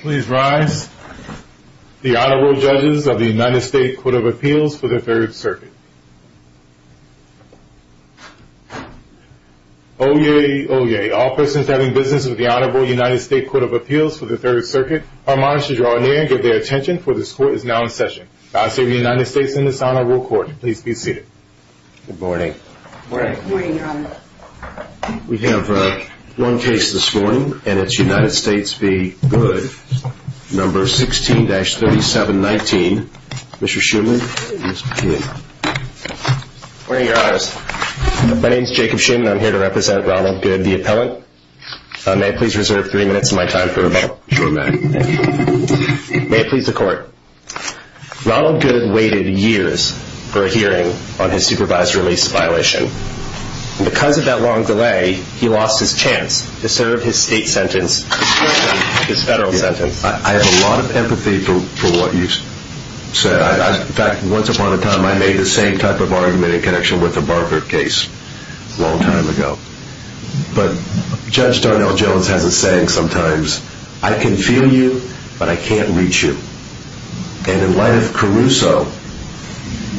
Please rise. The Honorable Judges of the United States Court of Appeals for the Third Circuit. Oyez, oyez. All persons having business with the Honorable United States Court of Appeals for the Third Circuit are admonished to draw near and give their attention, for this Court is now in session. Vassal of the United States in this Honorable Court, please be seated. Good morning. Good morning, Your Honor. We have one case this morning, and it's United States v. Goode, number 16-3719. Mr. Schumer, please begin. Good morning, Your Honor. My name is Jacob Schumer, and I'm here to represent Ronald Goode, the appellant. May I please reserve three minutes of my time for rebuttal? Sure, ma'am. May it please the Court. Ronald Goode waited years for a hearing on his supervised release violation. Because of that long delay, he lost his chance to serve his state sentence in comparison to his federal sentence. I have a lot of empathy for what you've said. In fact, once upon a time, I made the same type of argument in connection with the Barker case a long time ago. But Judge Darnell Jones has a saying sometimes, I can feel you, but I can't reach you. And in light of Caruso,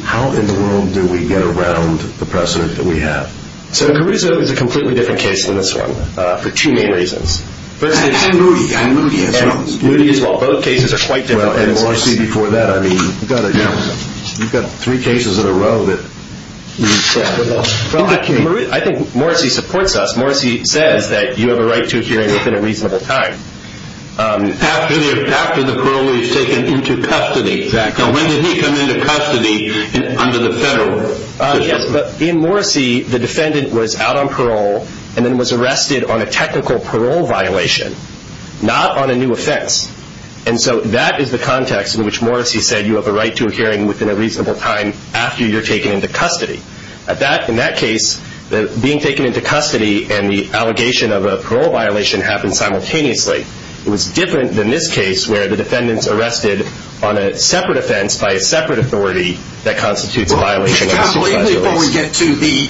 how in the world do we get around the precedent that we have? So Caruso is a completely different case than this one for two main reasons. And Moody. And Moody as well. Both cases are quite different. Well, and Morrissey before that. I mean, you've got three cases in a row that you've said. I think Morrissey supports us. Morrissey says that you have a right to a hearing within a reasonable time. After the parolee is taken into custody. Exactly. Now when did he come into custody under the federal? Yes, but in Morrissey, the defendant was out on parole and then was arrested on a technical parole violation, not on a new offense. And so that is the context in which Morrissey said you have a right to a hearing within a reasonable time after you're taken into custody. In that case, being taken into custody and the allegation of a parole violation happened simultaneously. It was different than this case where the defendant's arrested on a separate offense by a separate authority that constitutes a violation. Before we get to the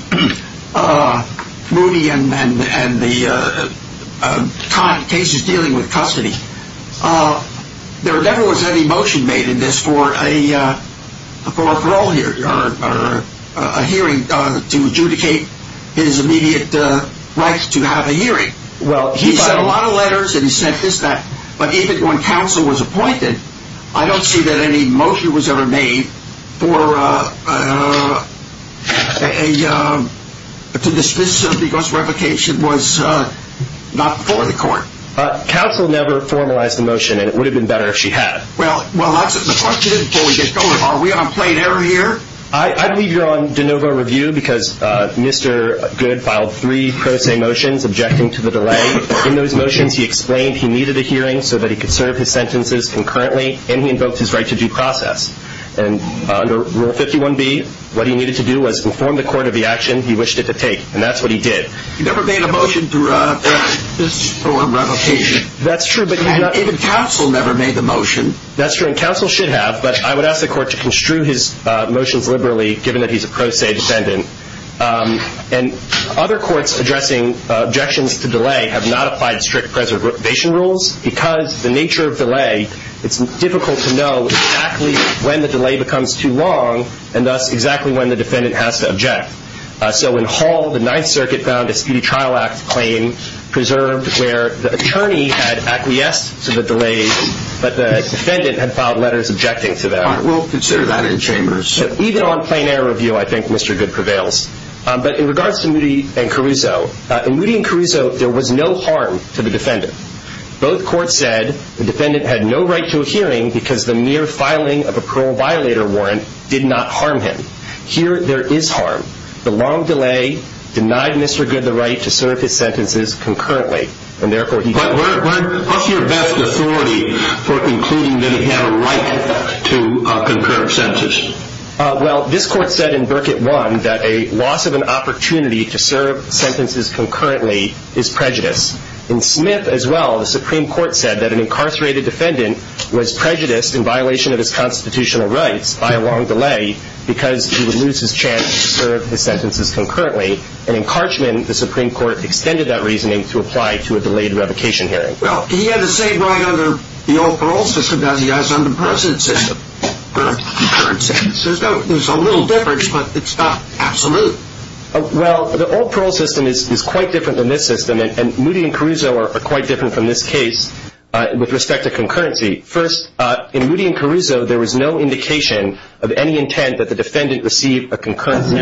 Moody and the cases dealing with custody, there never was any motion made in this for a hearing to adjudicate his immediate right to have a hearing. Well, he sent a lot of letters and he sent this back. But even when counsel was appointed, I don't see that any motion was ever made to dismiss him because revocation was not before the court. Counsel never formalized the motion and it would have been better if she had. Well, that's the question before we get going. Are we on plain error here? I believe you're on de novo review because Mr. Good filed three pro se motions objecting to the delay. In those motions, he explained he needed a hearing so that he could serve his sentences concurrently and he invoked his right to due process. And under Rule 51B, what he needed to do was inform the court of the action he wished it to take. And that's what he did. He never made a motion to revocation. That's true. Even counsel never made the motion. That's true. And counsel should have. But I would ask the court to construe his motions liberally given that he's a pro se defendant. And other courts addressing objections to delay have not applied strict preservation rules because the nature of delay, it's difficult to know exactly when the delay becomes too long and thus exactly when the defendant has to object. So in Hall, the Ninth Circuit found a Speedy Trial Act claim preserved where the attorney had acquiesced to the delay, but the defendant had filed letters objecting to that. We'll consider that in chambers. Even on plain error review, I think Mr. Goode prevails. But in regards to Moody and Caruso, in Moody and Caruso, there was no harm to the defendant. Both courts said the defendant had no right to a hearing because the mere filing of a parole violator warrant did not harm him. Here, there is harm. The long delay denied Mr. Goode the right to serve his sentences concurrently. What's your best authority for concluding that he had a right to concurrent sentences? Well, this court said in Burkitt 1 that a loss of an opportunity to serve sentences concurrently is prejudiced. In Smith as well, the Supreme Court said that an incarcerated defendant was prejudiced in violation of his constitutional rights by a long delay because he would lose his chance to serve his sentences concurrently. And in Carchman, the Supreme Court extended that reasoning to apply to a delayed revocation hearing. Well, he had the same right under the old parole system as he has under the precedent system for concurrent sentences. There's a little difference, but it's not absolute. Well, the old parole system is quite different than this system, and Moody and Caruso are quite different from this case with respect to concurrency. First, in Moody and Caruso, there was no indication of any intent that the defendant received a concurrency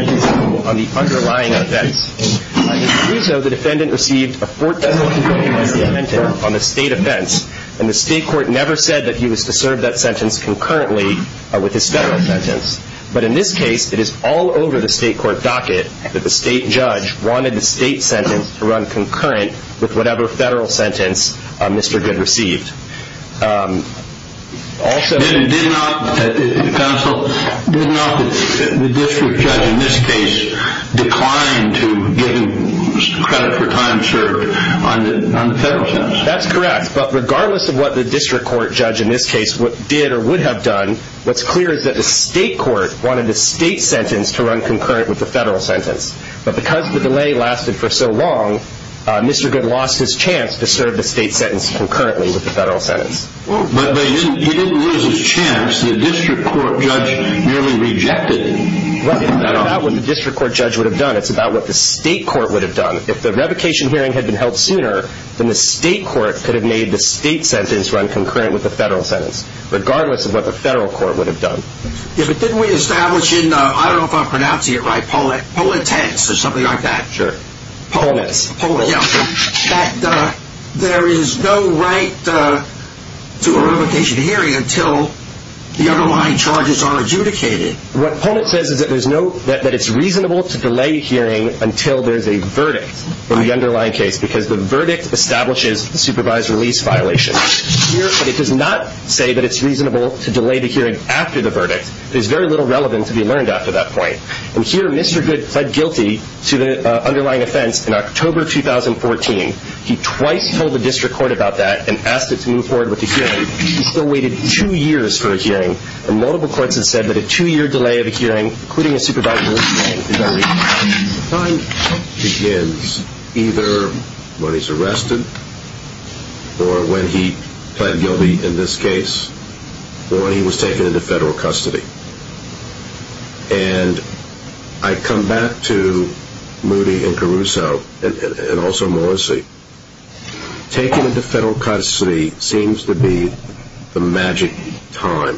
on the underlying offense. In Caruso, the defendant received a fourth federal concurrency sentence on a state offense, and the state court never said that he was to serve that sentence concurrently with his federal sentence. But in this case, it is all over the state court docket that the state judge wanted the state sentence to run concurrent with whatever federal sentence Mr. Goode received. Counsel, did not the district judge in this case decline to give him credit for time served on the federal sentence? That's correct. But regardless of what the district court judge in this case did or would have done, what's clear is that the state court wanted the state sentence to run concurrent with the federal sentence. But because the delay lasted for so long, Mr. Goode lost his chance to serve the state sentence concurrently with the federal sentence. But he didn't lose his chance. The district court judge merely rejected it. It's not about what the district court judge would have done. It's about what the state court would have done. If the revocation hearing had been held sooner, then the state court could have made the state sentence run concurrent with the federal sentence, regardless of what the federal court would have done. But didn't we establish in, I don't know if I'm pronouncing it right, or something like that? Sure. That there is no right to a revocation hearing until the underlying charges are adjudicated. What Pullman says is that it's reasonable to delay hearing until there's a verdict in the underlying case because the verdict establishes the supervised release violation. But it does not say that it's reasonable to delay the hearing after the verdict. There's very little relevant to be learned after that point. And here, Mr. Goode pled guilty to the underlying offense in October 2014. He twice told the district court about that and asked it to move forward with the hearing. He still waited two years for a hearing. And multiple courts have said that a two-year delay of a hearing, including a supervised release violation, is unreasonable. The time begins either when he's arrested or when he pled guilty in this case or when he was taken into federal custody. And I come back to Moody and Caruso and also Morrissey. Taking him to federal custody seems to be the magic time.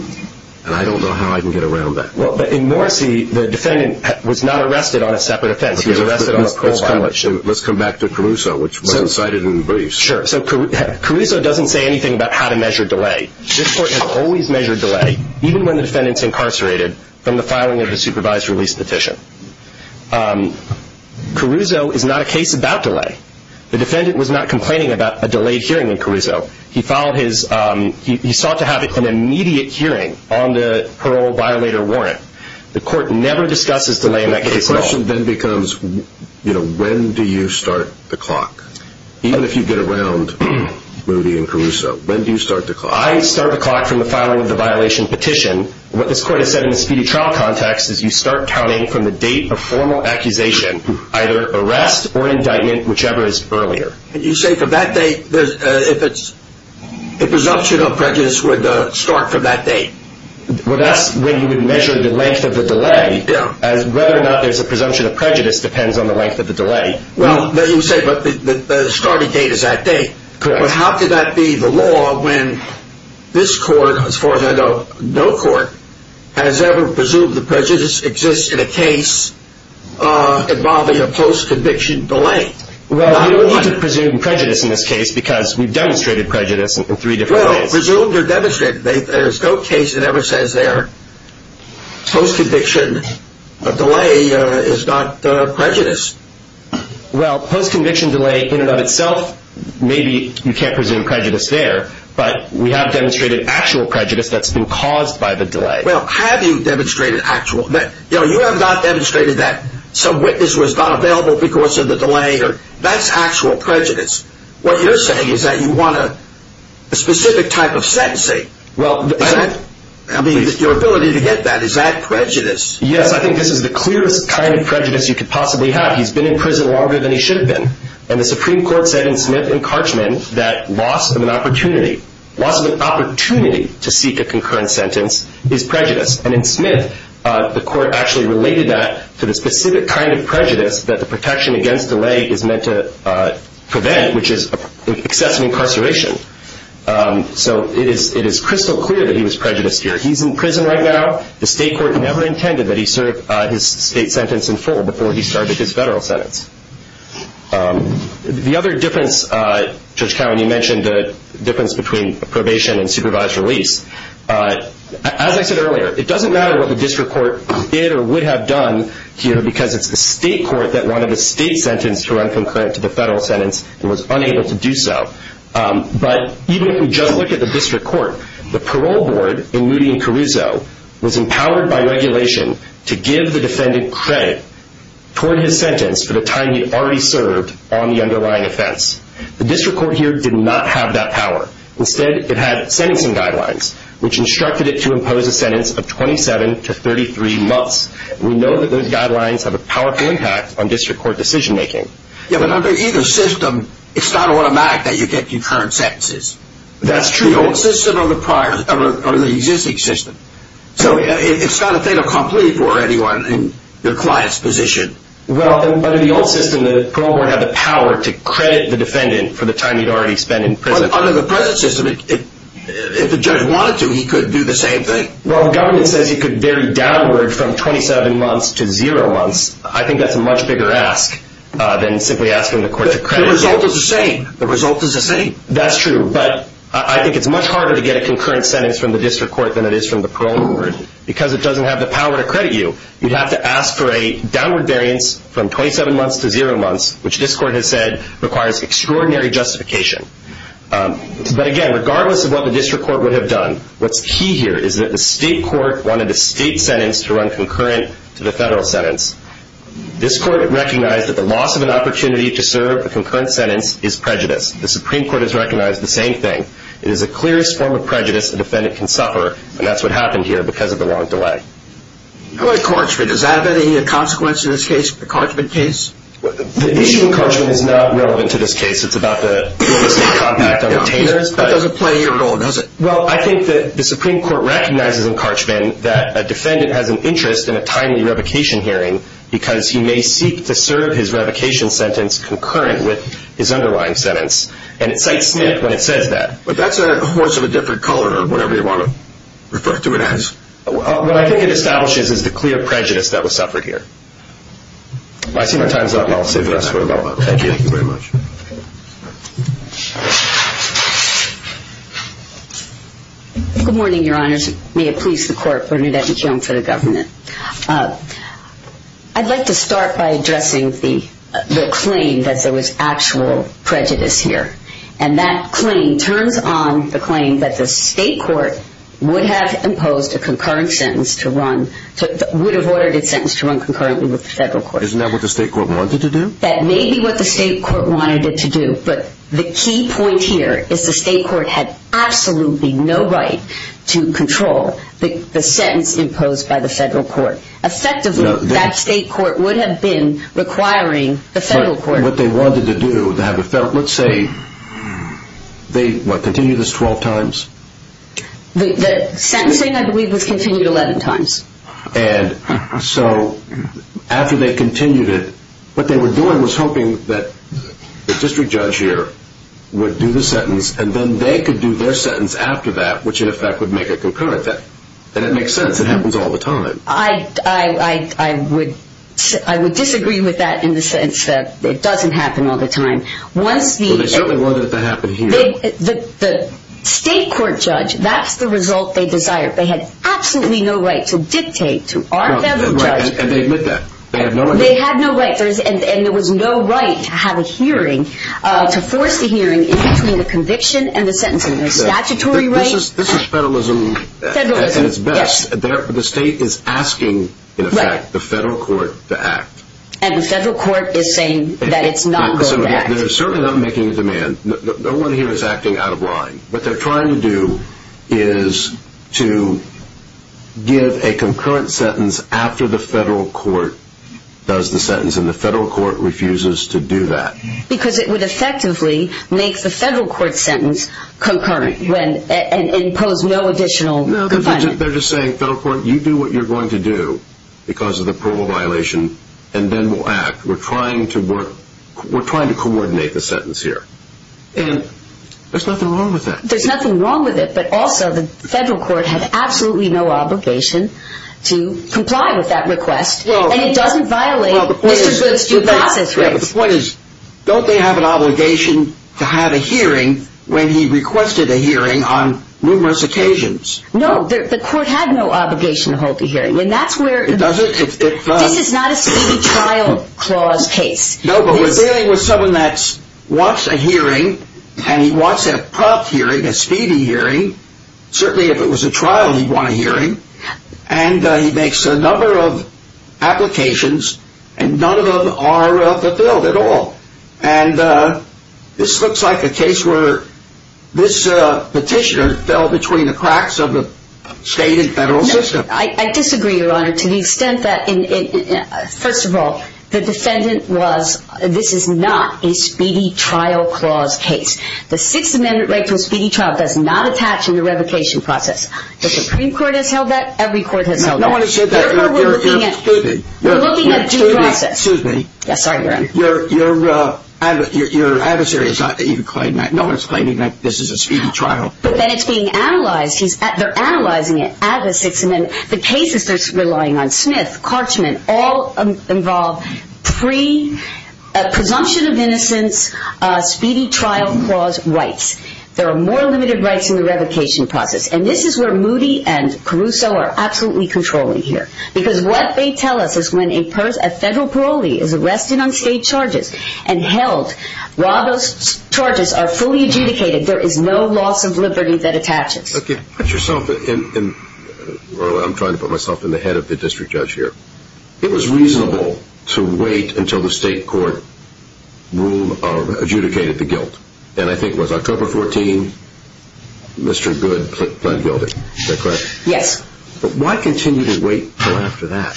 And I don't know how I can get around that. Well, but in Morrissey, the defendant was not arrested on a separate offense. He was arrested on a parole violation. Let's come back to Caruso, which was cited in the briefs. Sure. So Caruso doesn't say anything about how to measure delay. This court has always measured delay, even when the defendant's incarcerated, from the filing of the supervised release petition. Caruso is not a case about delay. The defendant was not complaining about a delayed hearing in Caruso. He sought to have an immediate hearing on the parole violator warrant. The court never discusses delay in that case at all. The question then becomes, you know, when do you start the clock? Even if you get around Moody and Caruso, when do you start the clock? I start the clock from the filing of the violation petition. What this court has said in the speedy trial context is you start counting from the date of formal accusation, either arrest or indictment, whichever is earlier. And you say from that date, if it's a presumption of prejudice, would start from that date? Well, that's when you would measure the length of the delay, as whether or not there's a presumption of prejudice depends on the length of the delay. Well, you say the starting date is that date. Correct. But how could that be the law when this court, as far as I know, no court, has ever presumed that prejudice exists in a case involving a post-conviction delay? Well, we don't need to presume prejudice in this case because we've demonstrated prejudice in three different ways. Well, presumed or demonstrated, there's no case that ever says there post-conviction delay is not prejudice. Well, post-conviction delay in and of itself, maybe you can't presume prejudice there, but we have demonstrated actual prejudice that's been caused by the delay. Well, have you demonstrated actual? You have not demonstrated that some witness was not available because of the delay. That's actual prejudice. What you're saying is that you want a specific type of sentencing. I mean, your ability to get that, is that prejudice? Yes, I think this is the clearest kind of prejudice you could possibly have. He's been in prison longer than he should have been. And the Supreme Court said in Smith and Karchman that loss of an opportunity, loss of an opportunity to seek a concurrent sentence is prejudice. And in Smith, the court actually related that to the specific kind of prejudice that the protection against delay is meant to prevent, which is excessive incarceration. So it is crystal clear that he was prejudiced here. He's in prison right now. The state court never intended that he serve his state sentence in full before he started his federal sentence. The other difference, Judge Cowen, you mentioned the difference between probation and supervised release. As I said earlier, it doesn't matter what the district court did or would have done here because it's the state court that wanted a state sentence to run concurrent to the federal sentence and was unable to do so. But even if you just look at the district court, the parole board in Moody and Caruso was empowered by regulation to give the defendant credit toward his sentence for the time he already served on the underlying offense. The district court here did not have that power. Instead, it had sentencing guidelines, which instructed it to impose a sentence of 27 to 33 months. We know that those guidelines have a powerful impact on district court decision making. Yeah, but under either system, it's not automatic that you get concurrent sentences. That's true. The old system or the existing system. So it's not a fait accompli for anyone in your client's position. Well, under the old system, the parole board had the power to credit the defendant for the time he'd already spent in prison. But under the present system, if the judge wanted to, he could do the same thing. Well, the government says he could vary downward from 27 months to zero months. I think that's a much bigger ask than simply asking the court to credit you. The result is the same. The result is the same. That's true. But I think it's much harder to get a concurrent sentence from the district court than it is from the parole board. Because it doesn't have the power to credit you, you have to ask for a downward variance from 27 months to zero months, which this court has said requires extraordinary justification. But, again, regardless of what the district court would have done, what's key here is that the state court wanted a state sentence to run concurrent to the federal sentence. This court recognized that the loss of an opportunity to serve a concurrent sentence is prejudice. The Supreme Court has recognized the same thing. It is the clearest form of prejudice a defendant can suffer, and that's what happened here because of the long delay. How about encouragement? Does that have any consequence in this case, the encouragement case? The issue of encouragement is not relevant to this case. It's about the state compact on retainers. That doesn't play here at all, does it? Well, I think that the Supreme Court recognizes encouragement that a defendant has an interest in a timely revocation hearing because he may seek to serve his revocation sentence concurrent with his underlying sentence, and it cites SNCC when it says that. But that's a horse of a different color or whatever you want to refer to it as. What I think it establishes is the clear prejudice that was suffered here. I see my time's up, and I'll save the rest for tomorrow. Thank you. Thank you very much. Good morning, Your Honors. May it please the Court, Bernadette McKeown for the government. I'd like to start by addressing the claim that there was actual prejudice here, and that claim turns on the claim that the state court would have imposed a concurrent sentence to run, would have ordered its sentence to run concurrently with the federal court. Isn't that what the state court wanted to do? That may be what the state court wanted it to do, but the key point here is the state court had absolutely no right to control the sentence imposed by the federal court. Effectively, that state court would have been requiring the federal court. But what they wanted to do, let's say they, what, continued this 12 times? The sentencing, I believe, was continued 11 times. And so after they continued it, what they were doing was hoping that the district judge here would do the sentence, and then they could do their sentence after that, which in effect would make it concurrent. That makes sense. It happens all the time. I would disagree with that in the sense that it doesn't happen all the time. Well, they certainly wanted it to happen here. The state court judge, that's the result they desired. They had absolutely no right to dictate to our federal judge. And they admit that. They had no right. They had no right. And there was no right to have a hearing, to force a hearing in between the conviction and the sentencing. There's statutory rights. This is federalism at its best. The state is asking, in effect, the federal court to act. And the federal court is saying that it's not going to act. They're certainly not making a demand. No one here is acting out of line. What they're trying to do is to give a concurrent sentence after the federal court does the sentence, and the federal court refuses to do that. Because it would effectively make the federal court sentence concurrent and impose no additional confinement. No, they're just saying, federal court, you do what you're going to do because of the approval violation, and then we'll act. We're trying to coordinate the sentence here. And there's nothing wrong with that. There's nothing wrong with it. But also, the federal court had absolutely no obligation to comply with that request. And it doesn't violate Mr. Goode's due process rights. The point is, don't they have an obligation to have a hearing when he requested a hearing on numerous occasions? No. The court had no obligation to hold the hearing. And that's where... It doesn't? This is not a city trial clause case. No, but we're dealing with someone that wants a hearing, and he wants a prompt hearing, a speedy hearing. Certainly, if it was a trial, he'd want a hearing. And he makes a number of applications, and none of them are fulfilled at all. And this looks like a case where this petitioner fell between the cracks of the state and federal system. I disagree, Your Honor, to the extent that, first of all, the defendant was... This is not a speedy trial clause case. The Sixth Amendment right to a speedy trial does not attach to the revocation process. The Supreme Court has held that. Every court has held that. No one has said that. Therefore, we're looking at due process. Excuse me. Sorry, Your Honor. Your adversary is not even claiming that. No one is claiming that this is a speedy trial. But then it's being analyzed. They're analyzing it at the Sixth Amendment. The cases they're relying on, Smith, Karchman, all involve presumption of innocence, speedy trial clause rights. There are more limited rights in the revocation process. And this is where Moody and Caruso are absolutely controlling here. Because what they tell us is when a federal parolee is arrested on state charges and held, while those charges are fully adjudicated, there is no loss of liberty that attaches. Okay. Put yourself in, or I'm trying to put myself in the head of the district judge here. It was reasonable to wait until the state court adjudicated the guilt. And I think it was October 14, Mr. Goode pled guilty. Is that correct? Yes. But why continue to wait until after that?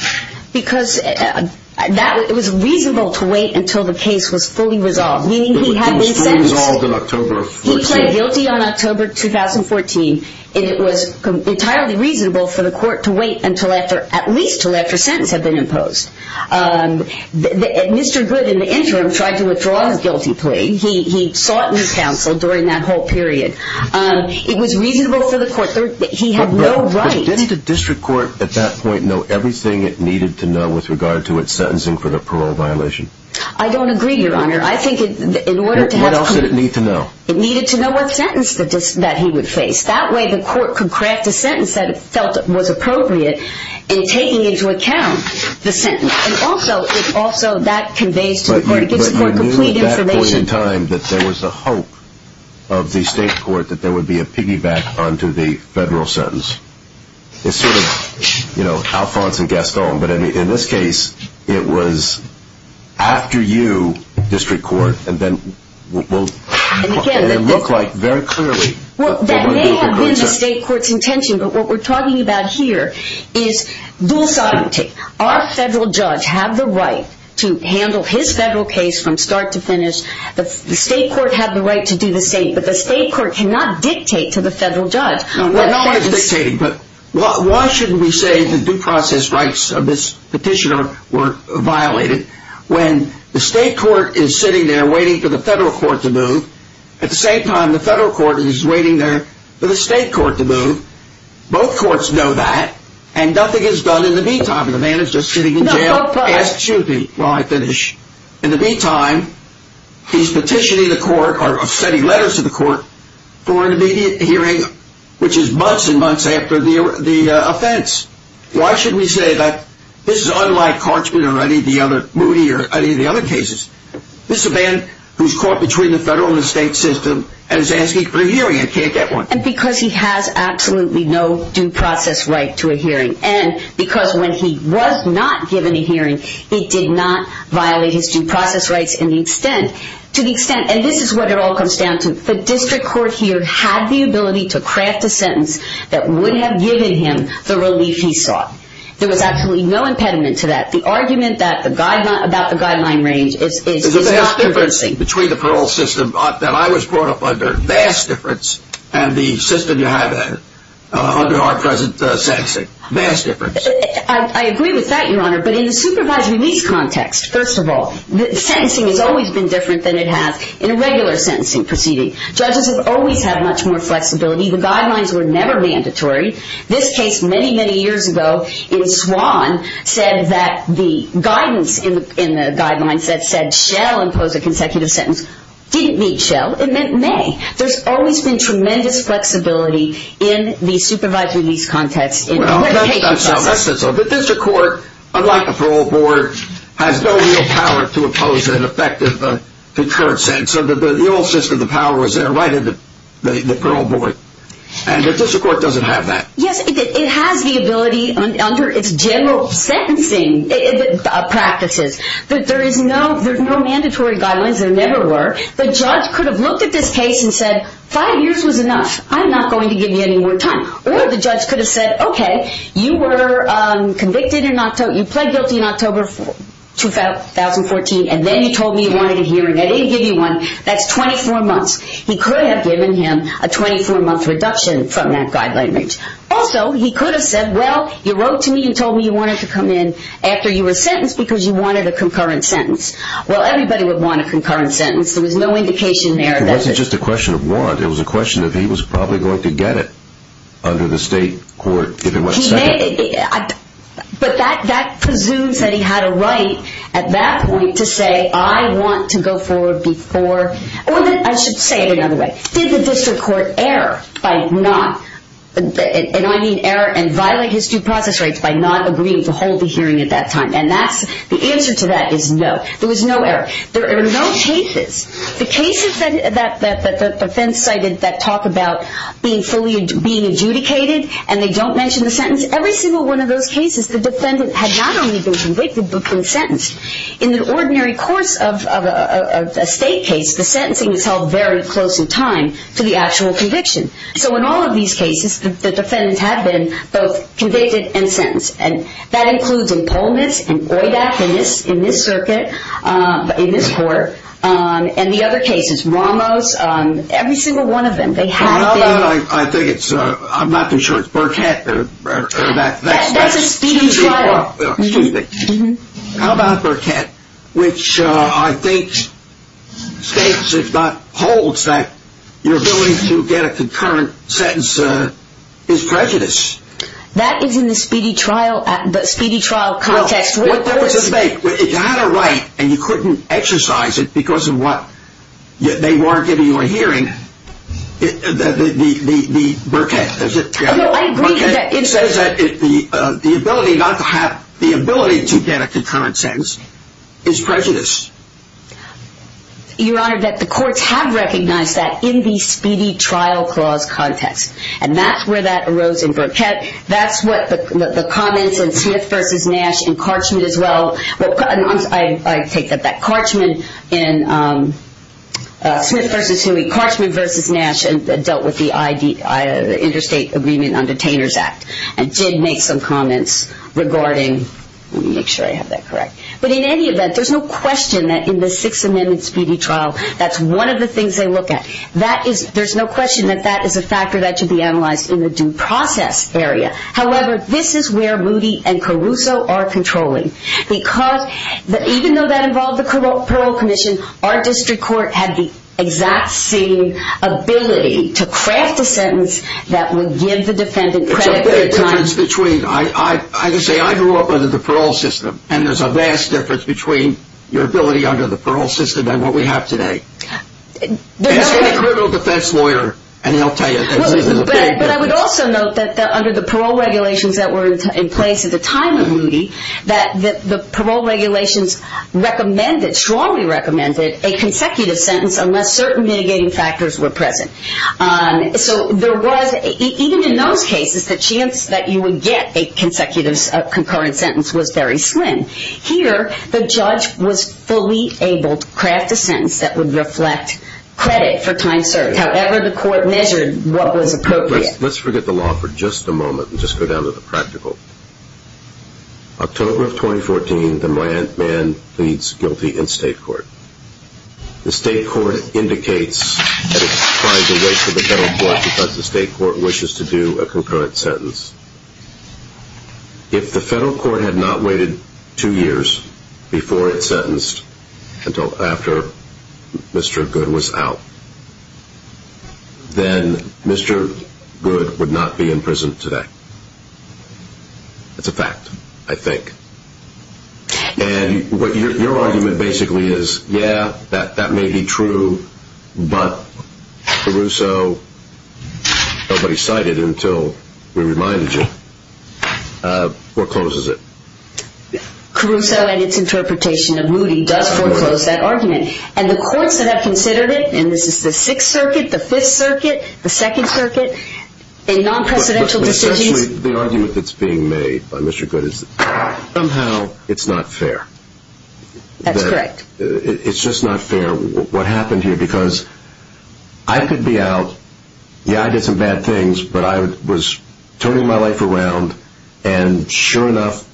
Because it was reasonable to wait until the case was fully resolved. Meaning he had been sentenced. It was fully resolved in October 14. He pled guilty on October 2014. And it was entirely reasonable for the court to wait at least until after a sentence had been imposed. Mr. Goode, in the interim, tried to withdraw his guilty plea. He sought new counsel during that whole period. It was reasonable for the court. He had no right. But didn't the district court at that point know everything it needed to know with regard to its sentencing for the parole violation? I don't agree, Your Honor. What else did it need to know? It needed to know what sentence that he would face. That way the court could craft a sentence that it felt was appropriate in taking into account the sentence. And also that conveys to the court. It gives the court complete information. But you knew at that point in time that there was a hope of the state court that there would be a piggyback onto the federal sentence. It's sort of, you know, Alphonse and Gaston. But in this case, it was after you, district court. And then it looked like very clearly. That may have been the state court's intention. But what we're talking about here is dual scientific. Our federal judge had the right to handle his federal case from start to finish. The state court had the right to do the state. But the state court cannot dictate to the federal judge. Why shouldn't we say the due process rights of this petitioner were violated when the state court is sitting there waiting for the federal court to move? At the same time, the federal court is waiting there for the state court to move. Both courts know that. And nothing is done in the meantime. The man is just sitting in jail. Ask Judy while I finish. In the meantime, he's petitioning the court or sending letters to the court for an immediate hearing, which is months and months after the offense. Why should we say that this is unlike Carchman or any of the other cases? This is a man who's caught between the federal and the state system and is asking for a hearing and can't get one. And because he has absolutely no due process right to a hearing. And because when he was not given a hearing, he did not violate his due process rights to the extent. And this is what it all comes down to. The district court here had the ability to craft a sentence that would have given him the relief he sought. There was absolutely no impediment to that. The argument about the guideline range is not convincing. Between the parole system that I was brought up under, vast difference, and the system you have under our present sentencing. Vast difference. I agree with that, Your Honor. But in the supervised release context, first of all, the sentencing has always been different than it has in a regular sentencing proceeding. Judges have always had much more flexibility. The guidelines were never mandatory. This case many, many years ago in Swann said that the guidance in the guidelines that said Shell impose a consecutive sentence didn't mean Shell. It meant May. There's always been tremendous flexibility in the supervised release context. Well, that's not so. The district court, unlike the parole board, has no real power to oppose an effective concurrence. And so the old system, the power was there right in the parole board. And the district court doesn't have that. Yes, it has the ability under its general sentencing practices. There's no mandatory guidelines. There never were. The judge could have looked at this case and said, five years was enough. I'm not going to give you any more time. Or the judge could have said, okay, you were convicted in October, you pled guilty in October 2014, and then you told me you wanted a hearing. I didn't give you one. That's 24 months. He could have given him a 24-month reduction from that guideline. Also, he could have said, well, you wrote to me and told me you wanted to come in after you were sentenced because you wanted a concurrence sentence. Well, everybody would want a concurrence sentence. There was no indication there. It wasn't just a question of want. It was a question of he was probably going to get it under the state court if it wasn't sent. But that presumes that he had a right at that point to say, I want to go forward before. Or I should say it another way. Did the district court err and violate his due process rights by not agreeing to hold the hearing at that time? And the answer to that is no. There was no error. There are no cases. The cases that the defense cited that talk about being fully being adjudicated and they don't mention the sentence, every single one of those cases the defendant had not only been convicted but been sentenced. In the ordinary course of a state case, the sentencing is held very close in time to the actual conviction. So in all of these cases, the defendants have been both convicted and sentenced. And that includes in Pullman's, in OIDAC, in this circuit, in this court, and the other cases. Ramos, every single one of them, they have been. How about, I think it's, I'm not too sure it's Burkett or that. That's a speedy trial. Excuse me. How about Burkett, which I think states, if not holds, that your ability to get a concurrence sentence is prejudice. That is in the speedy trial context. Well, there was a debate. If you had a right and you couldn't exercise it because of what they were giving you a hearing, the Burkett, is it? I agree with that. It says that the ability not to have, the ability to get a concurrence sentence is prejudice. Your Honor, that the courts have recognized that in the speedy trial clause context. And that's where that arose in Burkett. That's what the comments in Smith v. Nash and Karchman as well. I take that back. Karchman in, Smith v. Huey, Karchman v. Nash dealt with the Interstate Agreement on Detainers Act. And did make some comments regarding, let me make sure I have that correct. But in any event, there's no question that in the Sixth Amendment speedy trial, that's one of the things they look at. There's no question that that is a factor that should be analyzed in the due process area. However, this is where Moody and Caruso are controlling. Because even though that involved the parole commission, our district court had the exact same ability to craft a sentence that would give the defendant credit. I grew up under the parole system. And there's a vast difference between your ability under the parole system and what we have today. Ask any criminal defense lawyer and he'll tell you. But I would also note that under the parole regulations that were in place at the time of Moody, that the parole regulations recommended, strongly recommended, a consecutive sentence unless certain mitigating factors were present. So there was, even in those cases, the chance that you would get a consecutive, concurrent sentence was very slim. Here, the judge was fully able to craft a sentence that would reflect credit for time served. However, the court measured what was appropriate. Let's forget the law for just a moment and just go down to the practical. October of 2014, the man pleads guilty in state court. The state court indicates that it's trying to wait for the federal court because the state court wishes to do a concurrent sentence. If the federal court had not waited two years before it sentenced until after Mr. Good was out, then Mr. Good would not be in prison today. It's a fact, I think. And what your argument basically is, yeah, that may be true, but Caruso, nobody cited until we reminded you, forecloses it. Caruso and its interpretation of Moody does foreclose that argument. And the courts that have considered it, and this is the Sixth Circuit, the Fifth Circuit, the Second Circuit, in non-presidential decisions. The argument that's being made by Mr. Good is somehow it's not fair. That's correct. It's just not fair what happened here because I could be out. Yeah, I did some bad things, but I was turning my life around, and sure enough,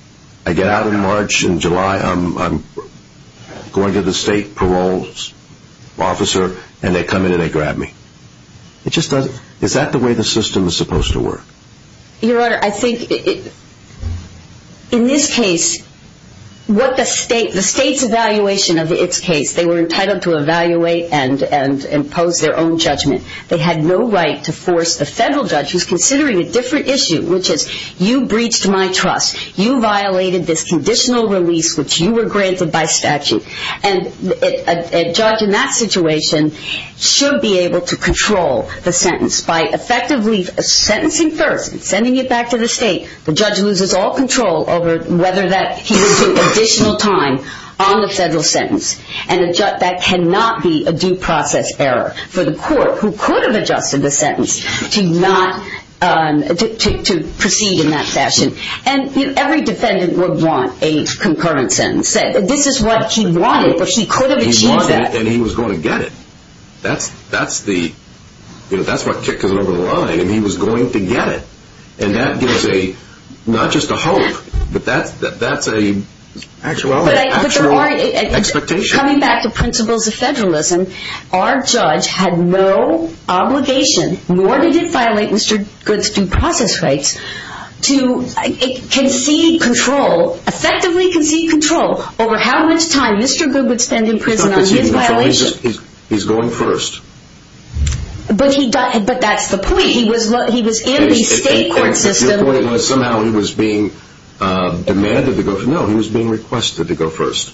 I get out in March. In July, I'm going to the state parole officer, and they come in and they grab me. Is that the way the system is supposed to work? Your Honor, I think in this case, the state's evaluation of its case, they were entitled to evaluate and impose their own judgment. They had no right to force the federal judge, who's considering a different issue, which is you breached my trust. You violated this conditional release, which you were granted by statute. And a judge in that situation should be able to control the sentence by effectively sentencing first and sending it back to the state. The judge loses all control over whether he was given additional time on the federal sentence, and that cannot be a due process error for the court who could have adjusted the sentence to proceed in that fashion. And every defendant would want a concurrent sentence. This is what she wanted, but she could have achieved that. He wanted it, and he was going to get it. That's what kicks it over the line, and he was going to get it. And that gives not just a hope, but that's an actual expectation. Coming back to principles of federalism, our judge had no obligation, nor did it violate Mr. Goode's due process rights to concede control, effectively concede control over how much time Mr. Goode would spend in prison on his violation. He's going first. But that's the point. He was in the state court system. Your point was somehow he was being demanded to go first. No, he was being requested to go first.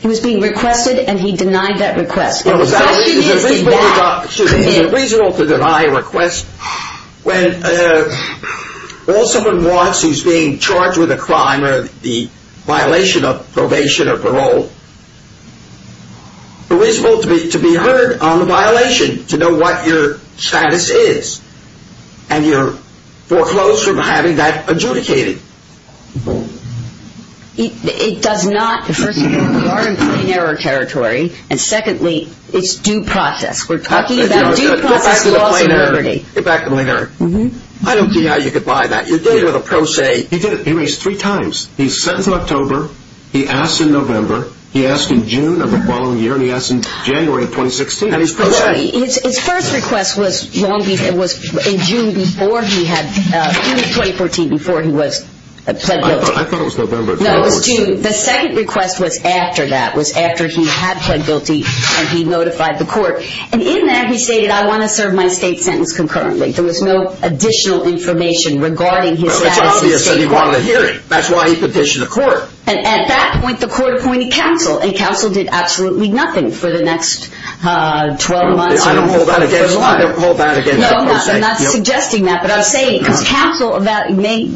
He was being requested, and he denied that request. Is it reasonable to deny a request when all someone wants is being charged with a crime or the violation of probation or parole? Is it reasonable to be heard on the violation to know what your status is and you're foreclosed from having that adjudicated? It does not. First, we are in plain error territory, and secondly, it's due process. We're talking about due process laws of liberty. Get back to the plain error. I don't see how you could buy that. You did it with a pro se. He did it. He raised three times. He's sentenced in October. He asks in November. He asks in June of the following year, and he asks in January of 2016. And he's pro se. His first request was in June 2014 before he was pled guilty. I thought it was November. No, it was June. The second request was after that, was after he had pled guilty, and he notified the court. And in that he stated, I want to serve my state sentence concurrently. There was no additional information regarding his status in the state court. Well, it's obvious that he wanted a hearing. That's why he petitioned the court. And at that point, the court appointed counsel, and counsel did absolutely nothing for the next 12 months. I don't hold that against you. I don't hold that against you. No, I'm not. I'm not suggesting that. But I'm saying, because counsel may,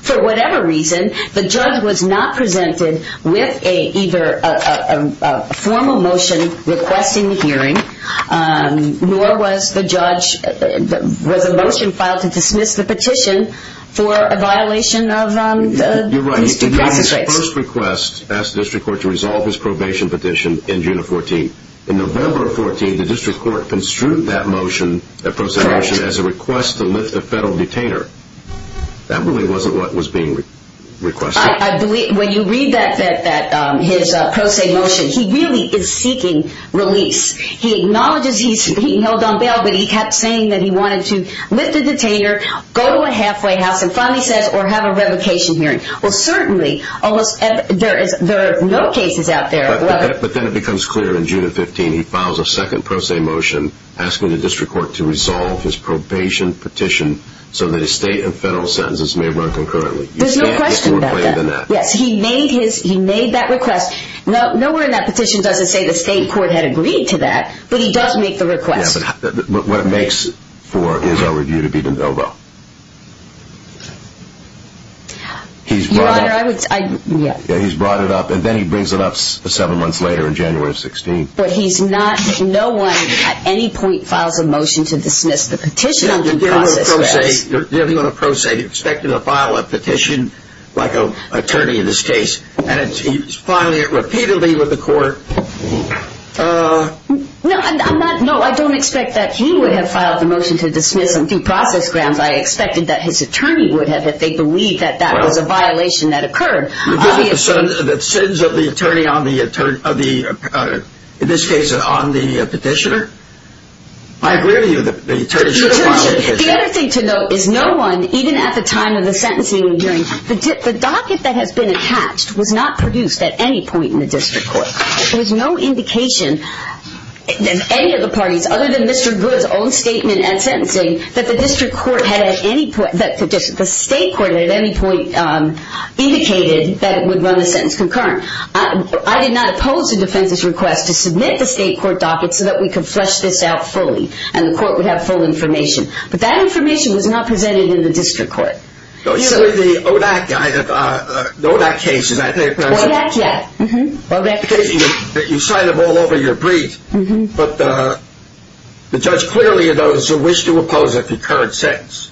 for whatever reason, the judge was not presented with either a formal motion requesting the hearing, nor was the judge, was a motion filed to dismiss the petition for a violation of due process rights. The first request asked the district court to resolve his probation petition in June of 14. In November of 14, the district court construed that motion, that pro se motion, as a request to lift a federal detainer. That really wasn't what was being requested. I believe, when you read that, his pro se motion, he really is seeking release. He acknowledges he's being held on bail, but he kept saying that he wanted to lift a detainer, go to a halfway house, and finally says, or have a revocation hearing. Well, certainly, there are no cases out there. But then it becomes clear in June of 15, he files a second pro se motion, asking the district court to resolve his probation petition so that his state and federal sentences may run concurrently. There's no question about that. Yes, he made that request. Nowhere in that petition does it say the state court had agreed to that, but he does make the request. What it makes for his own review to be de novo. Your Honor, I would say, yes. He's brought it up, and then he brings it up seven months later in January of 16. But he's not, no one at any point files a motion to dismiss the petition. You're dealing on a pro se. You're expected to file a petition, like an attorney in this case, and he's filing it repeatedly with the court. No, I don't expect that he would have filed the motion to dismiss and deprocess Grams. I expected that his attorney would have if they believed that that was a violation that occurred. The sentence of the attorney on the, in this case, on the petitioner? I agree with you that the attorney should file a petition. The other thing to note is no one, even at the time of the sentencing hearing, the docket that has been attached was not produced at any point in the district court. There's no indication that any of the parties, other than Mr. Good's own statement at sentencing, that the district court had at any point, that the state court had at any point indicated that it would run a sentence concurrent. I did not oppose the defense's request to submit the state court docket so that we could flesh this out fully and the court would have full information. But that information was not presented in the district court. The ODAC case, is that it? ODAC, yeah. You sign them all over your brief, but the judge clearly, though, wished to oppose a concurrent sentence.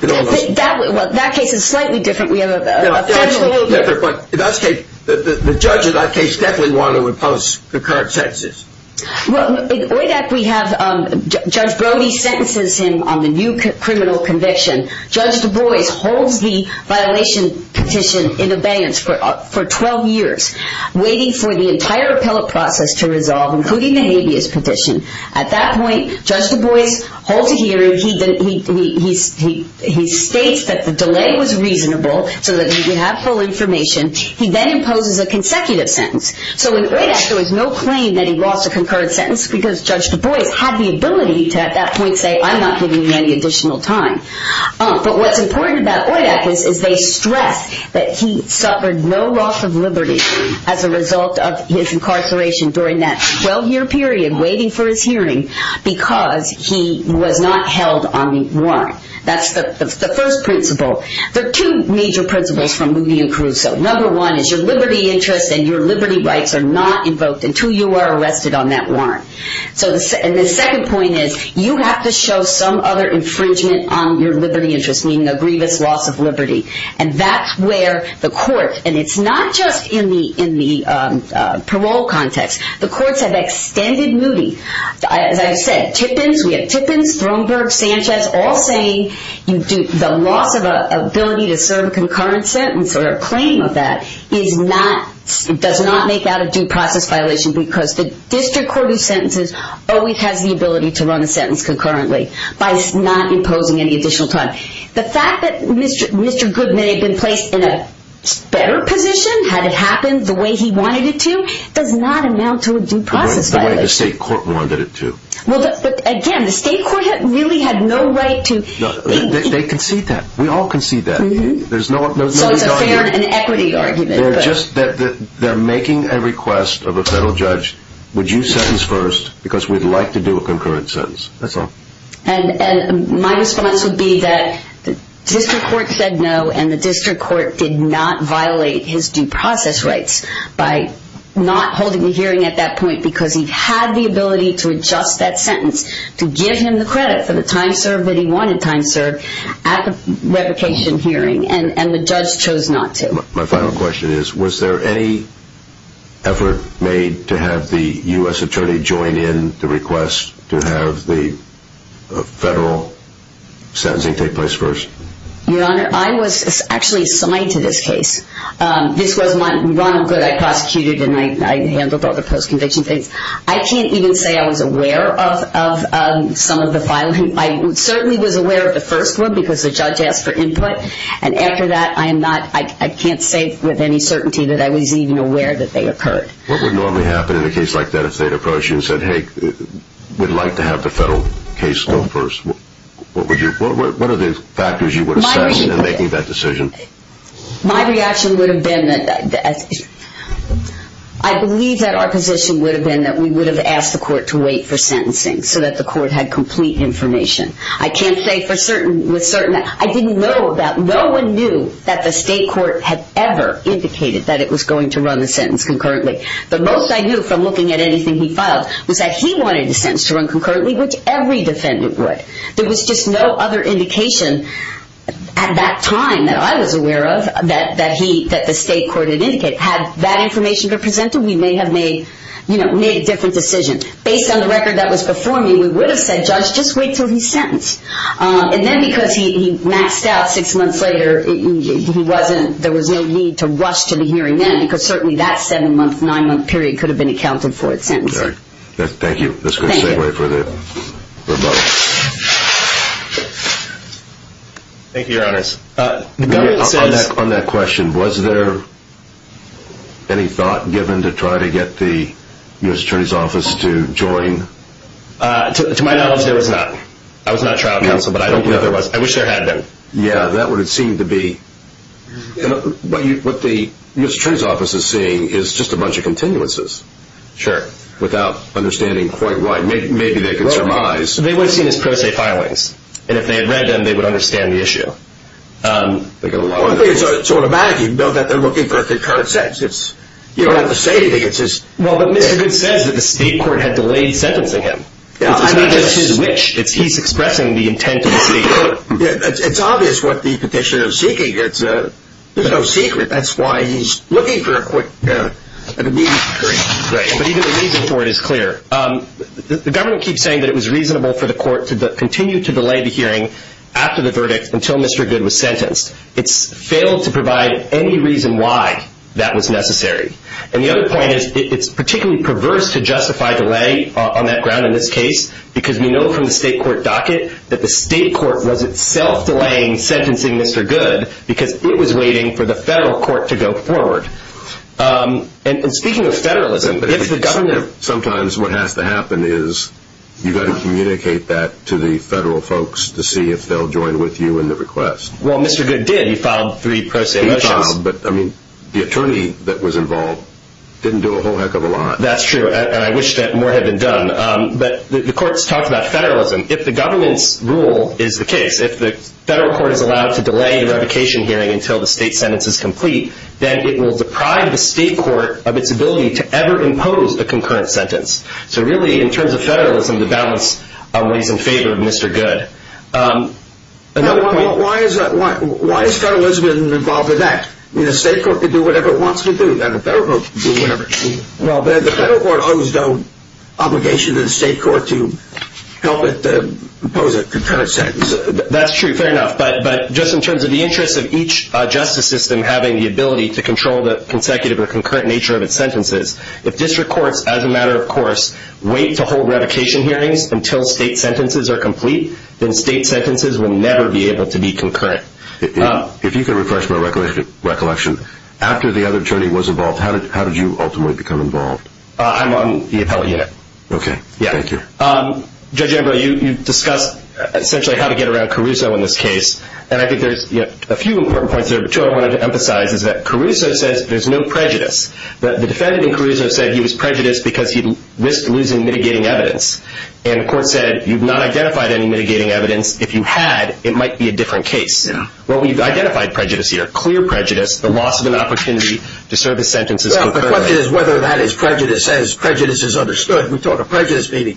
That case is slightly different. We have a federal lawyer. The judge in that case definitely wanted to oppose concurrent sentences. Well, in ODAC we have Judge Brody sentences him on the new criminal conviction. Judge Du Bois holds the violation petition in abeyance for 12 years, waiting for the entire appellate process to resolve, including the habeas petition. At that point, Judge Du Bois holds a hearing. He states that the delay was reasonable so that we could have full information. He then imposes a consecutive sentence. So in ODAC there was no claim that he lost a concurrent sentence because Judge Du Bois had the ability to at that point say, I'm not giving you any additional time. But what's important about ODAC is they stress that he suffered no loss of liberty as a result of his incarceration during that 12-year period waiting for his hearing because he was not held on the warrant. That's the first principle. There are two major principles from Moody and Caruso. Number one is your liberty interest and your liberty rights are not invoked until you are arrested on that warrant. And the second point is you have to show some other infringement on your liberty interest, meaning a grievous loss of liberty. And that's where the court, and it's not just in the parole context, the courts have extended Moody. As I said, Tippins, we have Tippins, Throneburg, Sanchez all saying the loss of ability to serve a concurrent sentence or a claim of that does not make that a due process violation because the district court of sentences always has the ability to run a sentence concurrently by not imposing any additional time. The fact that Mr. Goodman had been placed in a better position had it happened the way he wanted it to does not amount to a due process violation. The way the state court wanted it to. Again, the state court really had no right to. They concede that. We all concede that. So it's a fair and equity argument. They're making a request of a federal judge, would you sentence first because we'd like to do a concurrent sentence. That's all. And my response would be that the district court said no and the district court did not violate his due process rights by not holding the hearing at that point because he had the ability to adjust that sentence to give him the credit for the time served that he wanted time served at the revocation hearing and the judge chose not to. My final question is, was there any effort made to have the U.S. attorney join in the request to have the federal sentencing take place first? Your Honor, I was actually assigned to this case. This was my, Ronald Good, I prosecuted and I handled all the post-conviction things. I can't even say I was aware of some of the filing. I certainly was aware of the first one because the judge asked for input and after that I am not, I can't say with any certainty that I was even aware that they occurred. What would normally happen in a case like that if they had approached you and said, hey, we'd like to have the federal case go first? What would you, what are the factors you would assess in making that decision? My reaction would have been that, I believe that our position would have been that we would have asked the court to wait for sentencing so that the court had complete information. I can't say for certain, with certain, I didn't know that, no one knew that the state court had ever indicated that it was going to run the sentence concurrently. The most I knew from looking at anything he filed was that he wanted the sentence to run concurrently, which every defendant would. There was just no other indication at that time that I was aware of that he, that the state court had indicated. Had that information been presented, we may have made, you know, made a different decision. Based on the record that was before me, we would have said, Judge, just wait until he's sentenced. And then because he maxed out six months later, he wasn't, there was no need to rush to the hearing then because certainly that seven-month, nine-month period could have been accounted for at sentencing. Thank you. Thank you. That's good. Same way for the, for both. Thank you, Your Honors. The government says... To my knowledge, there was not. I was not trial counsel, but I don't know if there was. I wish there had been. Yeah, that would have seemed to be. What the U.S. Attorney's Office is seeing is just a bunch of continuances. Sure. Without understanding quite why. Maybe they could surmise. They would have seen as pro se filings. And if they had read them, they would understand the issue. So automatically, you know that they're looking for a concurrent sentence. You don't have to say anything, it's just... Well, but Mr. Goode says that the state court had delayed sentencing him. I mean, that's his wish. He's expressing the intent of the state court. It's obvious what the petitioner is seeking. There's no secret. That's why he's looking for a quick, an immediate hearing. Right, but even the reason for it is clear. The government keeps saying that it was reasonable for the court to continue to delay the hearing after the verdict until Mr. Goode was sentenced. It's failed to provide any reason why that was necessary. And the other point is it's particularly perverse to justify delay on that ground in this case because we know from the state court docket that the state court was itself delaying sentencing Mr. Goode because it was waiting for the federal court to go forward. And speaking of federalism, if the government... Sometimes what has to happen is you've got to communicate that to the federal folks to see if they'll join with you in the request. Well, Mr. Goode did. He filed three pro se motions. But, I mean, the attorney that was involved didn't do a whole heck of a lot. That's true, and I wish that more had been done. But the courts talked about federalism. If the government's rule is the case, if the federal court is allowed to delay the revocation hearing until the state sentence is complete, then it will deprive the state court of its ability to ever impose a concurrent sentence. So really, in terms of federalism, the balance lays in favor of Mr. Goode. Why is federalism involved with that? The state court can do whatever it wants to do, and the federal court can do whatever it wants to do. Well, the federal court owes no obligation to the state court to help it impose a concurrent sentence. That's true, fair enough. But just in terms of the interest of each justice system having the ability to control the consecutive or concurrent nature of its sentences, if district courts, as a matter of course, wait to hold revocation hearings until state sentences are complete, then state sentences will never be able to be concurrent. If you could refresh my recollection, after the other attorney was involved, how did you ultimately become involved? I'm on the appellate unit. Okay, thank you. Judge Embro, you discussed essentially how to get around Caruso in this case, and I think there's a few important points there, but two I wanted to emphasize is that Caruso says there's no prejudice. The defendant in Caruso said he was prejudiced because he risked losing mitigating evidence, and the court said you've not identified any mitigating evidence. If you had, it might be a different case. Well, we've identified prejudice here, clear prejudice, the loss of an opportunity to serve his sentences concurrently. Well, the question is whether that is prejudice. As prejudice is understood, we talk of prejudice being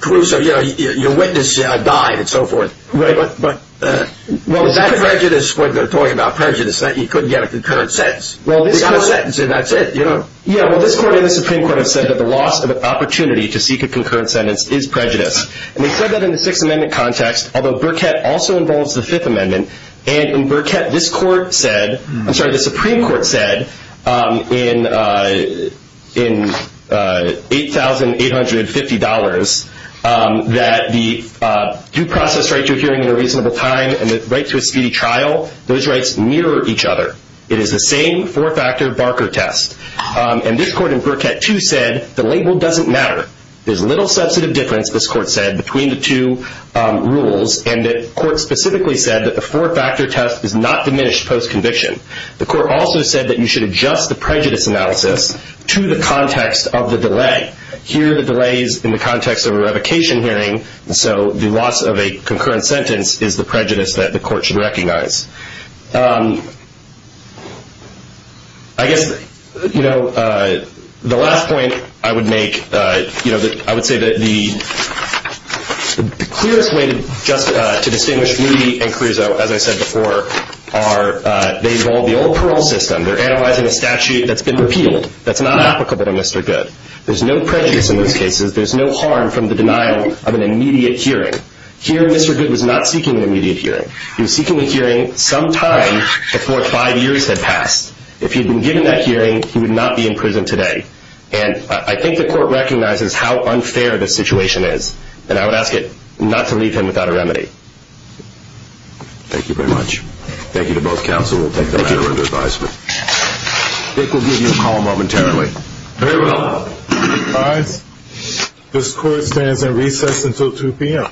Caruso. You know, your witness died and so forth, but that prejudice when they're talking about prejudice, he couldn't get a concurrent sentence. He got a sentence and that's it, you know? Yeah, well, this court and the Supreme Court have said that the loss of an opportunity to seek a concurrent sentence is prejudice, and they said that in the Sixth Amendment context, although Burkett also involves the Fifth Amendment, and in Burkett this court said, I'm sorry, the Supreme Court said in $8,850 that the due process right to a hearing in a reasonable time and the right to a speedy trial, those rights mirror each other. It is the same four-factor Barker test, and this court in Burkett too said the label doesn't matter. There's little substantive difference, this court said, between the two rules, and the court specifically said that the four-factor test is not diminished post-conviction. The court also said that you should adjust the prejudice analysis to the context of the delay. Here the delay is in the context of a revocation hearing, so the loss of a concurrent sentence is the prejudice that the court should recognize. I guess, you know, the last point I would make, you know, I would say that the clearest way just to distinguish me and Caruso, as I said before, are they involve the old parole system. They're analyzing a statute that's been repealed, that's not applicable to Mr. Good. There's no prejudice in those cases. There's no harm from the denial of an immediate hearing. Here Mr. Good was not seeking an immediate hearing. He was seeking a hearing sometime before five years had passed. If he had been given that hearing, he would not be in prison today, and I think the court recognizes how unfair the situation is, and I would ask it not to leave him without a remedy. Thank you very much. Thank you to both counsel. We'll take the matter under advisement. Dick, we'll give you a call momentarily. Very well. All right. This court stands at recess until 2 p.m.